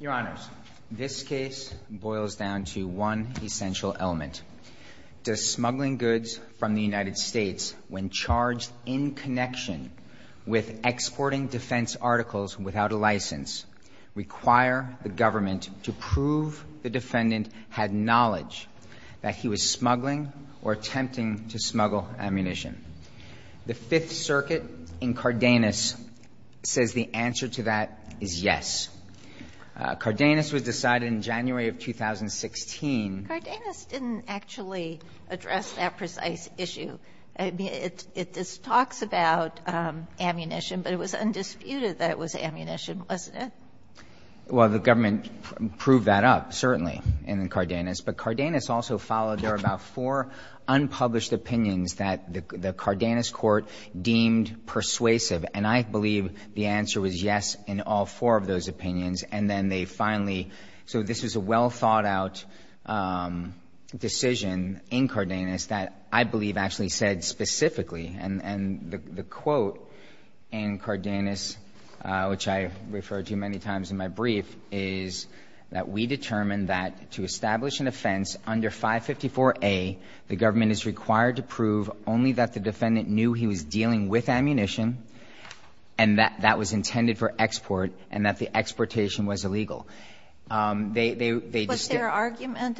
Your Honor, this case boils down to one essential element. Does smuggling goods from the United require the government to prove the defendant had knowledge that he was smuggling or attempting to smuggle ammunition? The Fifth Circuit in Cardenas says the answer to that is yes. Cardenas was decided in January of 2016. Sotomayor Cardenas didn't actually address that precise issue. It talks about ammunition, but it was undisputed that it was ammunition, wasn't it? Well, the government proved that up, certainly, in Cardenas. But Cardenas also followed there about four unpublished opinions that the Cardenas court deemed persuasive, and I believe the answer was yes in all four of those opinions. And then they finally — so this is a well-thought-out decision in Cardenas that I believe actually said specifically, and the quote in Cardenas, which I refer to many times in my brief, is that we determined that to establish an offense under 554A, the government is required to prove only that the defendant knew he was dealing with ammunition and that that was intended for export and that the exportation was illegal. They just didn't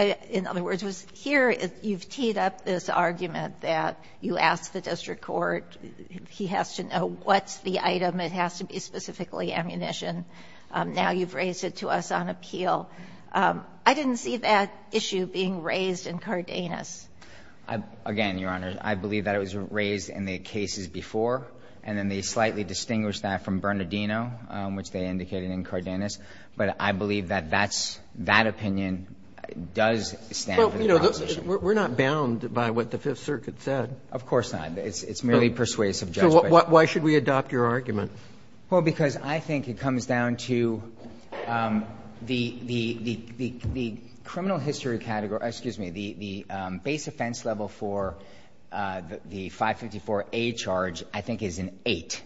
— In other words, here you've teed up this argument that you ask the district court, he has to know what's the item, it has to be specifically ammunition. Now you've raised it to us on appeal. I didn't see that issue being raised in Cardenas. Again, Your Honor, I believe that it was raised in the cases before, and then they slightly distinguished that from Bernardino, which they indicated in Cardenas. But I believe that that's — that opinion does stand for the proposition. Roberts. We're not bound by what the Fifth Circuit said. Of course not. It's merely persuasive judgment. So why should we adopt your argument? Well, because I think it comes down to the criminal history category — excuse me, the base offense level for the 554A charge I think is an 8.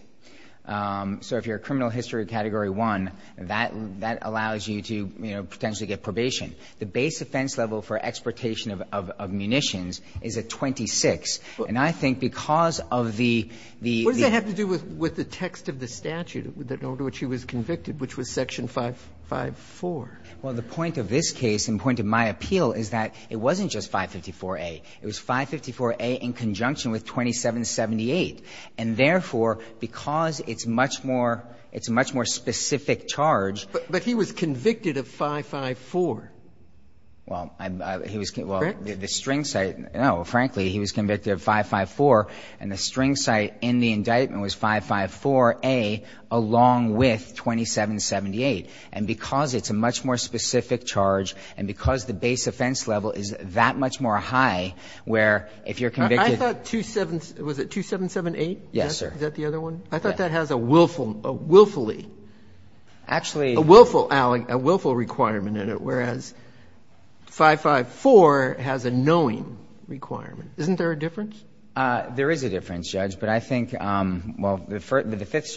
So if you're a criminal history category 1, that allows you to, you know, potentially get probation. The base offense level for exportation of munitions is a 26. And I think because of the — What does that have to do with the text of the statute in order to which he was convicted, which was section 554? Well, the point of this case and the point of my appeal is that it wasn't just 554A. It was 554A in conjunction with 2778. And therefore, because it's much more — it's a much more specific charge — But he was convicted of 554. Well, he was — Correct? Well, the string site — no, frankly, he was convicted of 554. And the string site in the indictment was 554A along with 2778. And because it's a much more specific charge and because the base offense level is that much more high, where if you're convicted — I thought 27 — was it 2778? Yes, sir. Is that the other one? I thought that has a willfully — Actually — A willful — a willful requirement in it, whereas 554 has a knowing requirement. Isn't there a difference? There is a difference, Judge. But I think — well, the Fifth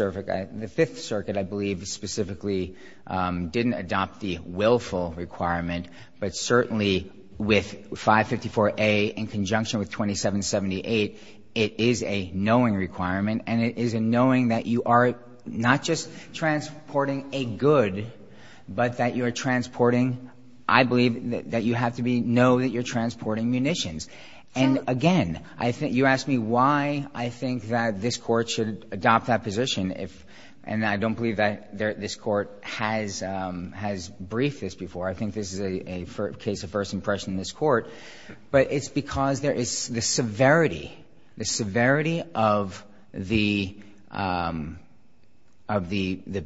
Circuit, I believe, specifically didn't adopt the willful But certainly, with 554A in conjunction with 2778, it is a knowing requirement. And it is a knowing that you are not just transporting a good, but that you are transporting — I believe that you have to be — know that you're transporting munitions. And again, I think — you asked me why I think that this Court should adopt that position. And I don't believe that this Court has briefed this before. I think this is a case of first impression in this Court. But it's because there is — the severity, the severity of the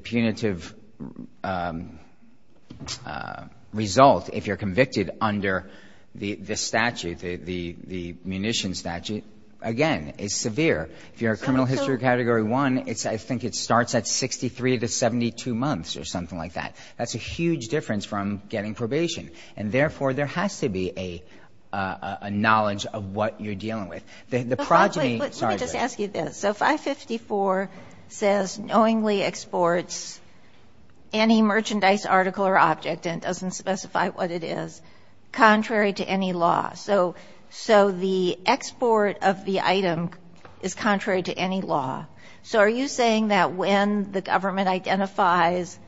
punitive result, if you're convicted under the statute, the munitions statute, again, is severe. If you're a criminal history category 1, it's — I think it starts at 63 to 72 months or something like that. That's a huge difference from getting probation. And therefore, there has to be a knowledge of what you're dealing with. The progeny — Let me just ask you this. So 554 says knowingly exports any merchandise article or object, and doesn't specify what it is, contrary to any law. So the export of the item is contrary to any law. So are you saying that when the government identifies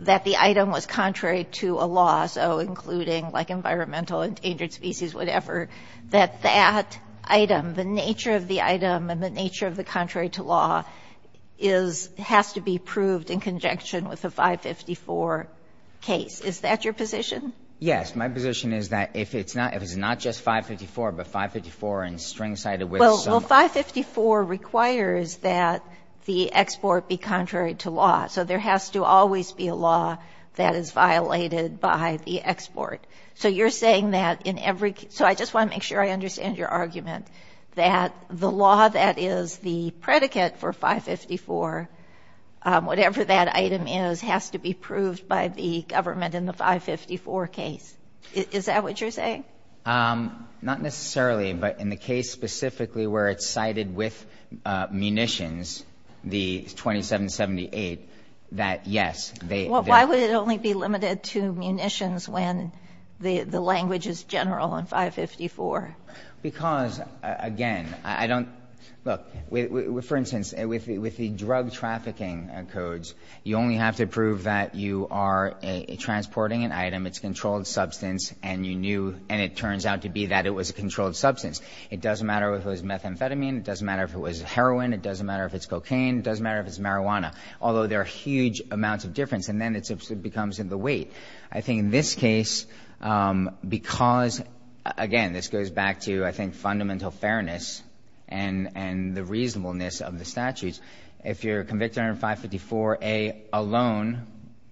that the item was contrary to a law, so including, like, environmental, endangered species, whatever, that that item, the nature of the item and the nature of the contrary to law is — has to be proved in conjunction with the 554 case? Is that your position? Yes. My position is that if it's not — if it's not just 554, but 554 in string side of which some — Well, 554 requires that the export be contrary to law. So there has to always be a law that is violated by the export. So you're saying that in every — so I just want to make sure I understand your argument, that the law that is the predicate for 554, whatever that item is, has to be proved by the government in the 554 case? Is that what you're saying? Not necessarily, but in the case specifically where it's cited with munitions, the 2778, that yes, they — Why would it only be limited to munitions when the language is general in 554? Because, again, I don't — look, for instance, with the drug trafficking codes, you only have to prove that you are transporting an item, it's a controlled substance, and you knew — and it turns out to be that it was a controlled substance. It doesn't matter if it was methamphetamine. It doesn't matter if it was heroin. It doesn't matter if it's cocaine. It doesn't matter if it's marijuana, although there are huge amounts of difference. And then it becomes in the weight. I think in this case, because — again, this goes back to, I think, fundamental fairness and the reasonableness of the statutes. If you're convicted under 554A alone,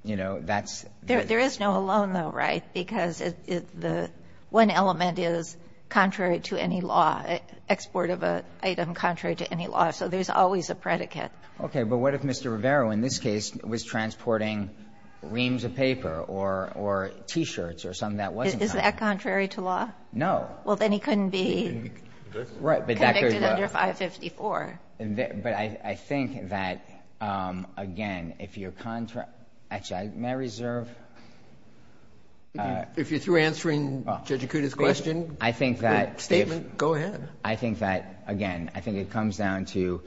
you know, that's — There is no alone, though, right? Because the one element is contrary to any law, export of an item contrary to any law. So there's always a predicate. Okay, but what if Mr. Rivera, in this case, was transporting reams of paper or T-shirts or something that wasn't — Is that contrary to law? No. Well, then he couldn't be convicted under 554. But I think that, again, if you're — actually, may I reserve? If you're through answering Judge Acuda's question, statement, go ahead. I think that, again, I think it comes down to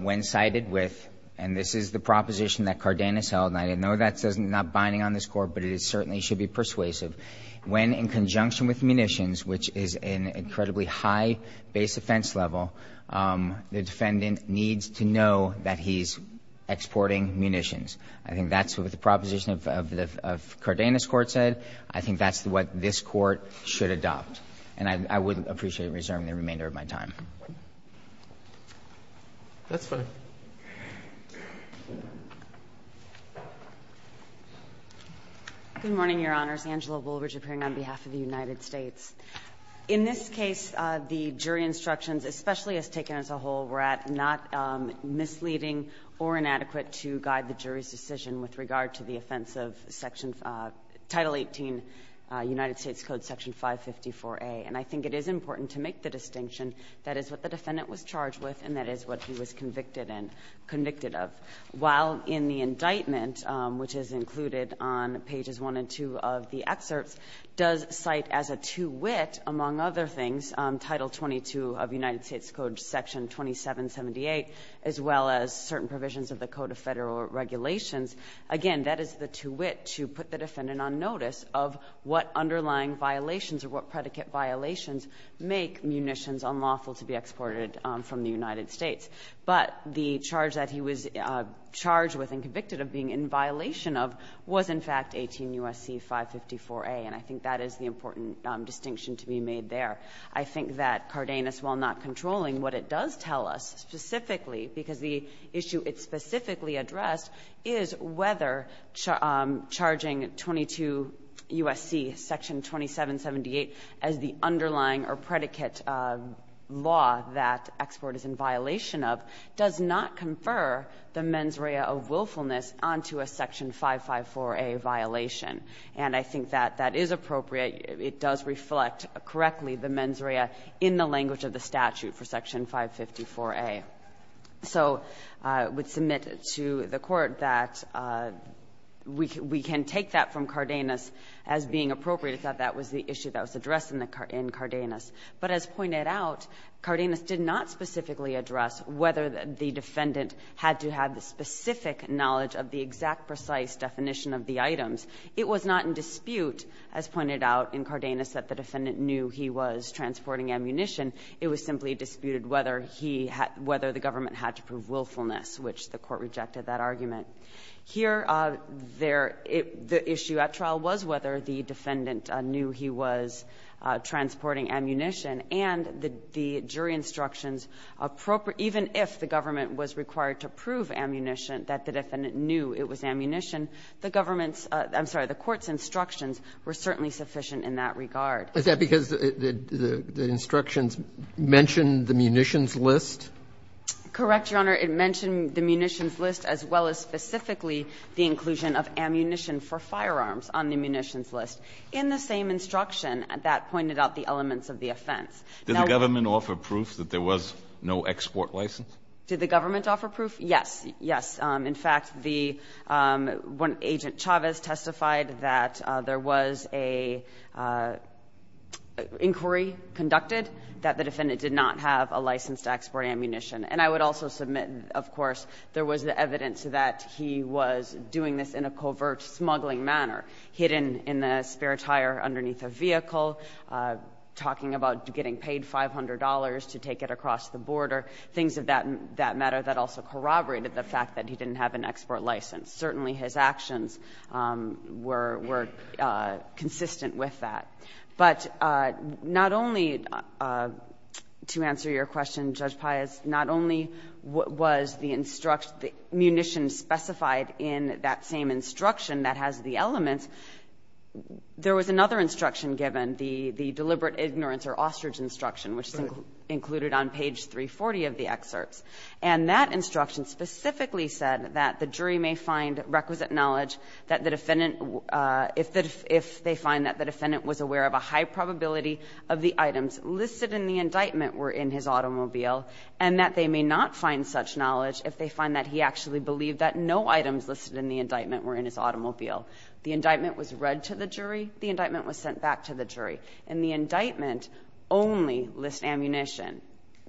when cited with — and this is the proposition that Cardenas held, and I know that's not binding on this Court, but it certainly should be persuasive. When in conjunction with munitions, which is an incredibly high base offense level, the defendant needs to know that he's exporting munitions. I think that's what the proposition of Cardenas' court said. I think that's what this Court should adopt. And I would appreciate reserving the remainder of my time. That's fine. Good morning, Your Honors. Angela Woolridge, appearing on behalf of the United States. In this case, the jury instructions, especially as taken as a whole, were not misleading or inadequate to guide the jury's decision with regard to the offense of Title 18, United States Code, Section 554a. And I think it is important to make the distinction that is what the defendant was charged with and that is what he was convicted in. While in the indictment, which is included on pages 1 and 2 of the excerpts, does cite as a two-wit, among other things, Title 22 of United States Code, Section 2778, as well as certain provisions of the Code of Federal Regulations, again, that is the two-wit to put the defendant on notice of what underlying violations or what predicate violations make munitions unlawful to be exported from the United States. But the charge that he was charged with and convicted of being in violation of was, in fact, 18 U.S.C. 554a. And I think that is the important distinction to be made there. I think that Cardenas, while not controlling, what it does tell us specifically, because the issue it specifically addressed, is whether charging 22 U.S.C. Section 2778 as the underlying or predicate law that export is in violation of does not confer the mens rea of willfulness onto a Section 554a violation. And I think that that is appropriate. It does reflect correctly the mens rea in the language of the statute for Section 554a. So I would submit to the Court that we can take that from Cardenas as being appropriate that that was the issue that was addressed in Cardenas. But as pointed out, Cardenas did not specifically address whether the defendant had to have the specific knowledge of the exact precise definition of the items. It was not in dispute, as pointed out in Cardenas, that the defendant knew he was transporting ammunition. It was simply disputed whether he had to prove willfulness, which the Court rejected that argument. Here, there the issue at trial was whether the defendant knew he was transporting ammunition, and the jury instructions appropriate, even if the government was required to prove ammunition, that the defendant knew it was ammunition, the government's, I'm sorry, the Court's instructions were certainly sufficient in that regard. Roberts. Is that because the instructions mention the munitions list? Correct, Your Honor. It mentioned the munitions list as well as specifically the inclusion of ammunition for firearms on the munitions list. In the same instruction, that pointed out the elements of the offense. Now the government offered proof that there was no export license? Did the government offer proof? Yes, yes. In fact, the one, Agent Chavez, testified that there was an inquiry conducted that the defendant did not have a license to export ammunition. And I would also submit, of course, there was the evidence that he was doing this in a covert smuggling manner, hidden in the spare tire underneath a vehicle, talking about getting paid $500 to take it across the border, things of that matter that also corroborated the fact that he didn't have an export license. Certainly, his actions were consistent with that. But not only, to answer your question, Judge Pius, not only was the munition specified in that same instruction that has the elements, there was another instruction given, the deliberate ignorance or ostrich instruction, which is included on page 340 of the excerpts. And that instruction specifically said that the jury may find requisite knowledge if they find that the defendant was aware of a high probability of the items listed in the indictment were in his automobile, and that they may not find such knowledge if they find that he actually believed that no items listed in the indictment were in his automobile. The indictment was read to the jury. The indictment was sent back to the jury. And the indictment only lists ammunition.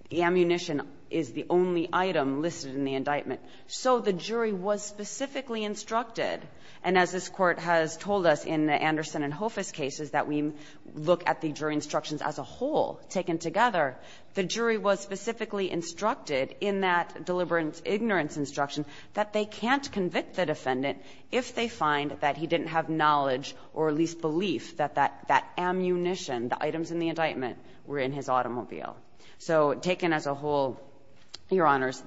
The ammunition is the only item listed in the indictment. So the jury was specifically instructed, and as this Court has told us in the Anderson and Hoffice cases that we look at the jury instructions as a whole taken together, the jury was specifically instructed in that deliberate ignorance instruction that they can't convict the defendant if they find that he didn't have knowledge or at least belief that that ammunition, the items in the indictment, were in his automobile. So taken as a whole, Your Honors,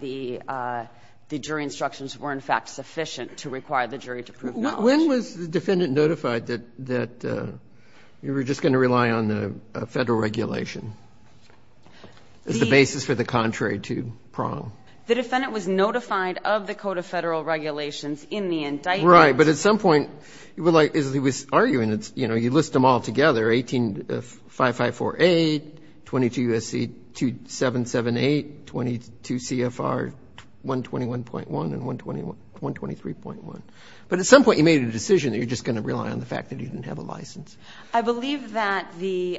the jury instructions were in fact sufficient to require the jury to prove knowledge. When was the defendant notified that you were just going to rely on the Federal regulation as the basis for the contrary to Prong? The defendant was notified of the Code of Federal Regulations in the indictment. Right. But at some point, as he was arguing, you list them all together, 185548, 22 U.S. C. 2778, 22 CFR 121.1, and 123.1. But at some point, you made a decision that you're just going to rely on the fact that you didn't have a license. I believe that the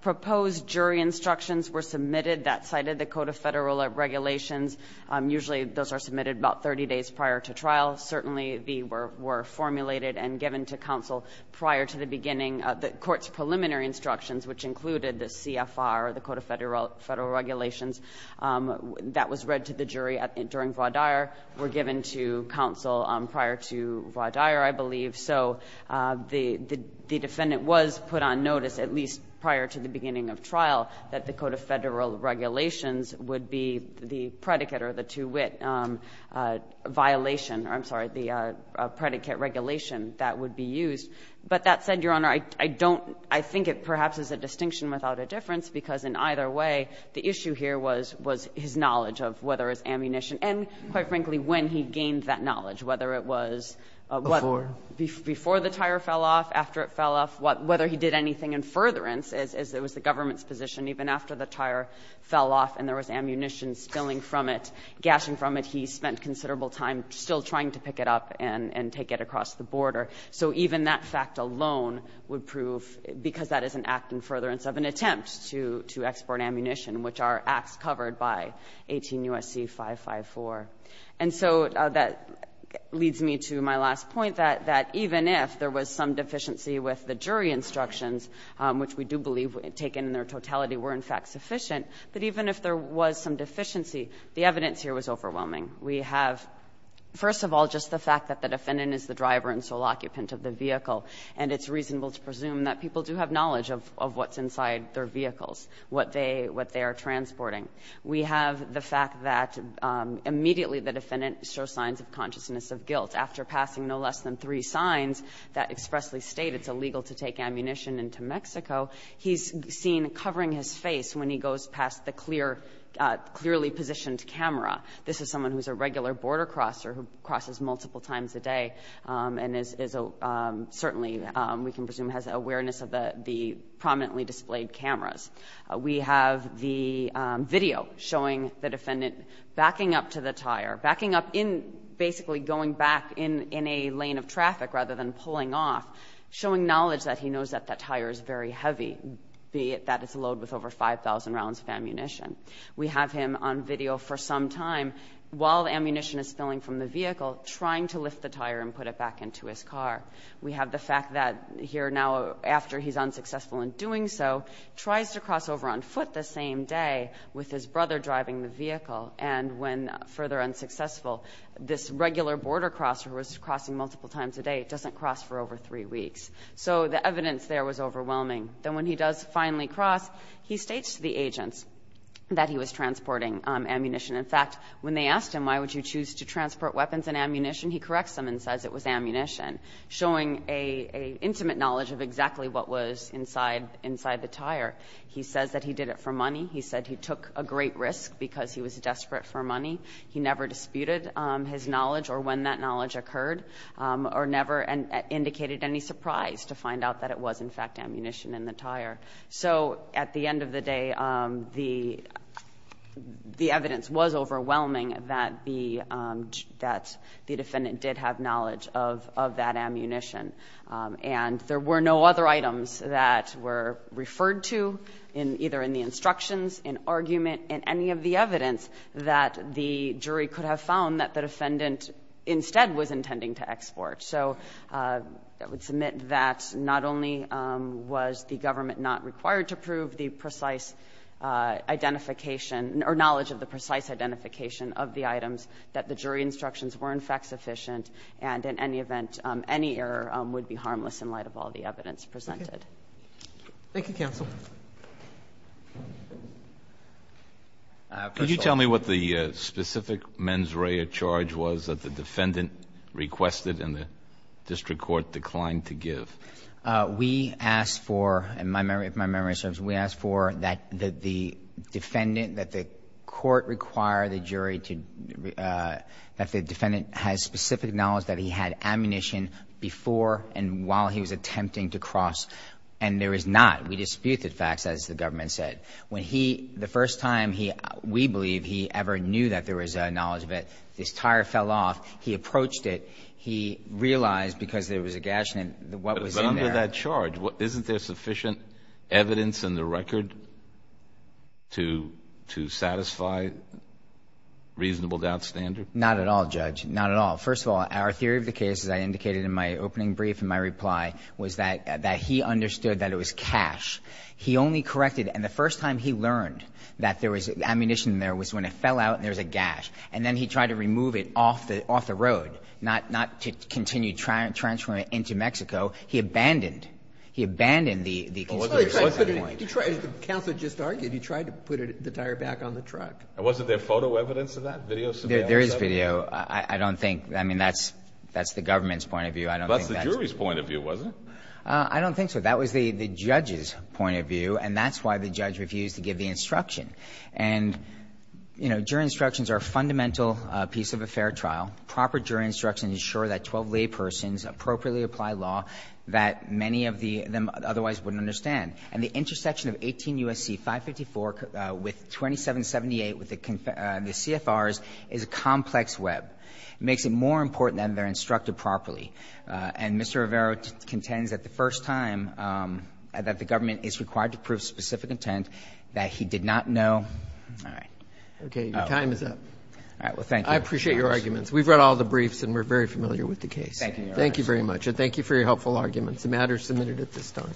proposed jury instructions were submitted that cited the Code of Federal Regulations. Usually, those are submitted about 30 days prior to trial. Certainly, they were formulated and given to counsel prior to the beginning of the court's preliminary instructions, which included the CFR, the Code of Federal Regulations. That was read to the jury during voir dire, were given to counsel prior to voir dire, I believe. So the defendant was put on notice, at least prior to the beginning of trial, that the Code of Federal Regulations would be the predicate or the two-wit violation or, I'm sorry, the predicate regulation that would be used. But that said, Your Honor, I don't — I think it perhaps is a distinction without a difference, because in either way, the issue here was his knowledge of whether his ammunition — and, quite frankly, when he gained that knowledge, whether it was — Before? Before the tire fell off, after it fell off, whether he did anything in furtherance as it was the government's position, even after the tire fell off and there was ammunition spilling from it, gashing from it, he spent considerable time still trying to pick it up and take it across the border. So even that fact alone would prove — because that is an act in furtherance of an attempt to export ammunition, which are acts covered by 18 U.S.C. 554. And so that leads me to my last point, that even if there was some deficiency with the jury instructions, which we do believe taken in their totality were, in fact, sufficient, that even if there was some deficiency, the evidence here was overwhelming. We have, first of all, just the fact that the defendant is the driver and sole occupant of the vehicle. And it's reasonable to presume that people do have knowledge of what's inside their vehicles, what they are transporting. We have the fact that immediately the defendant shows signs of consciousness of guilt. After passing no less than three signs that expressly state it's illegal to take ammunition into Mexico, he's seen covering his face when he goes past the clearly positioned camera. This is someone who's a regular border crosser who crosses multiple times a day and is — certainly, we can presume, has awareness of the prominently displayed cameras. We have the video showing the defendant backing up to the tire, backing up in — basically going back in a lane of traffic rather than pulling off, showing knowledge that he knows that that tire is very heavy, be it that it's loaded with over 5,000 rounds of ammunition. We have him on video for some time while the ammunition is spilling from the vehicle trying to lift the tire and put it back into his car. We have the fact that here now, after he's unsuccessful in doing so, tries to cross over on foot the same day with his brother driving the vehicle. And when further unsuccessful, this regular border crosser who was crossing multiple times a day doesn't cross for over three weeks. So the evidence there was overwhelming. Then when he does finally cross, he states to the agents that he was transporting ammunition. In fact, when they asked him, why would you choose to transport weapons and ammunition, he corrects them and says it was ammunition, showing an intimate knowledge of exactly what was inside the tire. He says that he did it for money. He said he took a great risk because he was desperate for money. He never disputed his knowledge or when that knowledge occurred or never indicated any prize to find out that it was in fact ammunition in the tire. So at the end of the day, the evidence was overwhelming that the defendant did have knowledge of that ammunition. And there were no other items that were referred to either in the instructions, in argument, in any of the evidence that the jury could have found that the defendant instead was intending to export. So I would submit that not only was the government not required to prove the precise identification or knowledge of the precise identification of the items, that the jury instructions were in fact sufficient and in any event, any error would be harmless in light of all the evidence presented. Roberts. Thank you, counsel. Can you tell me what the specific mens rea charge was that the defendant requested and the district court declined to give? We asked for, if my memory serves, we asked for that the defendant, that the court require the jury to, that the defendant has specific knowledge that he had ammunition before and while he was attempting to cross and there is not. We disputed facts, as the government said. When he, the first time we believe he ever knew that there was a knowledge of it, this tire fell off. He approached it. He realized because there was a gash and what was in there. Under that charge, isn't there sufficient evidence in the record to satisfy reasonable doubt standard? Not at all, Judge. Not at all. First of all, our theory of the case, as I indicated in my opening brief in my reply, was that he understood that it was cash. He only corrected, and the first time he learned that there was ammunition there was when it fell out and there was a gash. And then he tried to remove it off the road, not to continue transferring it into Mexico. He abandoned. He abandoned the conspiracy at that point. But the counsel just argued he tried to put the tire back on the truck. And wasn't there photo evidence of that? Video surveillance? There is video. I don't think, I mean, that's the government's point of view. I don't think that's the jury's point of view, was it? I don't think so. That was the judge's point of view, and that's why the judge refused to give the instruction. And, you know, jury instructions are a fundamental piece of a fair trial. Proper jury instructions ensure that 12 laypersons appropriately apply law that many of them otherwise wouldn't understand. And the intersection of 18 U.S.C. 554 with 2778 with the CFRs is a complex web. It makes it more important that they're instructed properly. And Mr. Rivero contends that the first time that the government is required to prove specific intent that he did not know. All right. Okay. Your time is up. All right. Well, thank you. I appreciate your arguments. We've read all the briefs, and we're very familiar with the case. Thank you. Thank you very much. And thank you for your helpful arguments. The matter is submitted at this time.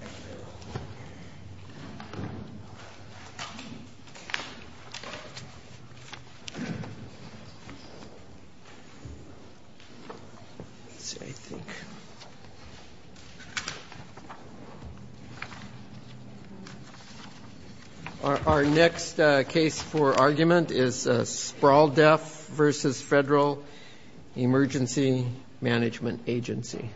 Our next case for argument is Sprawl Deaf v. Federal Emergency Management Agency.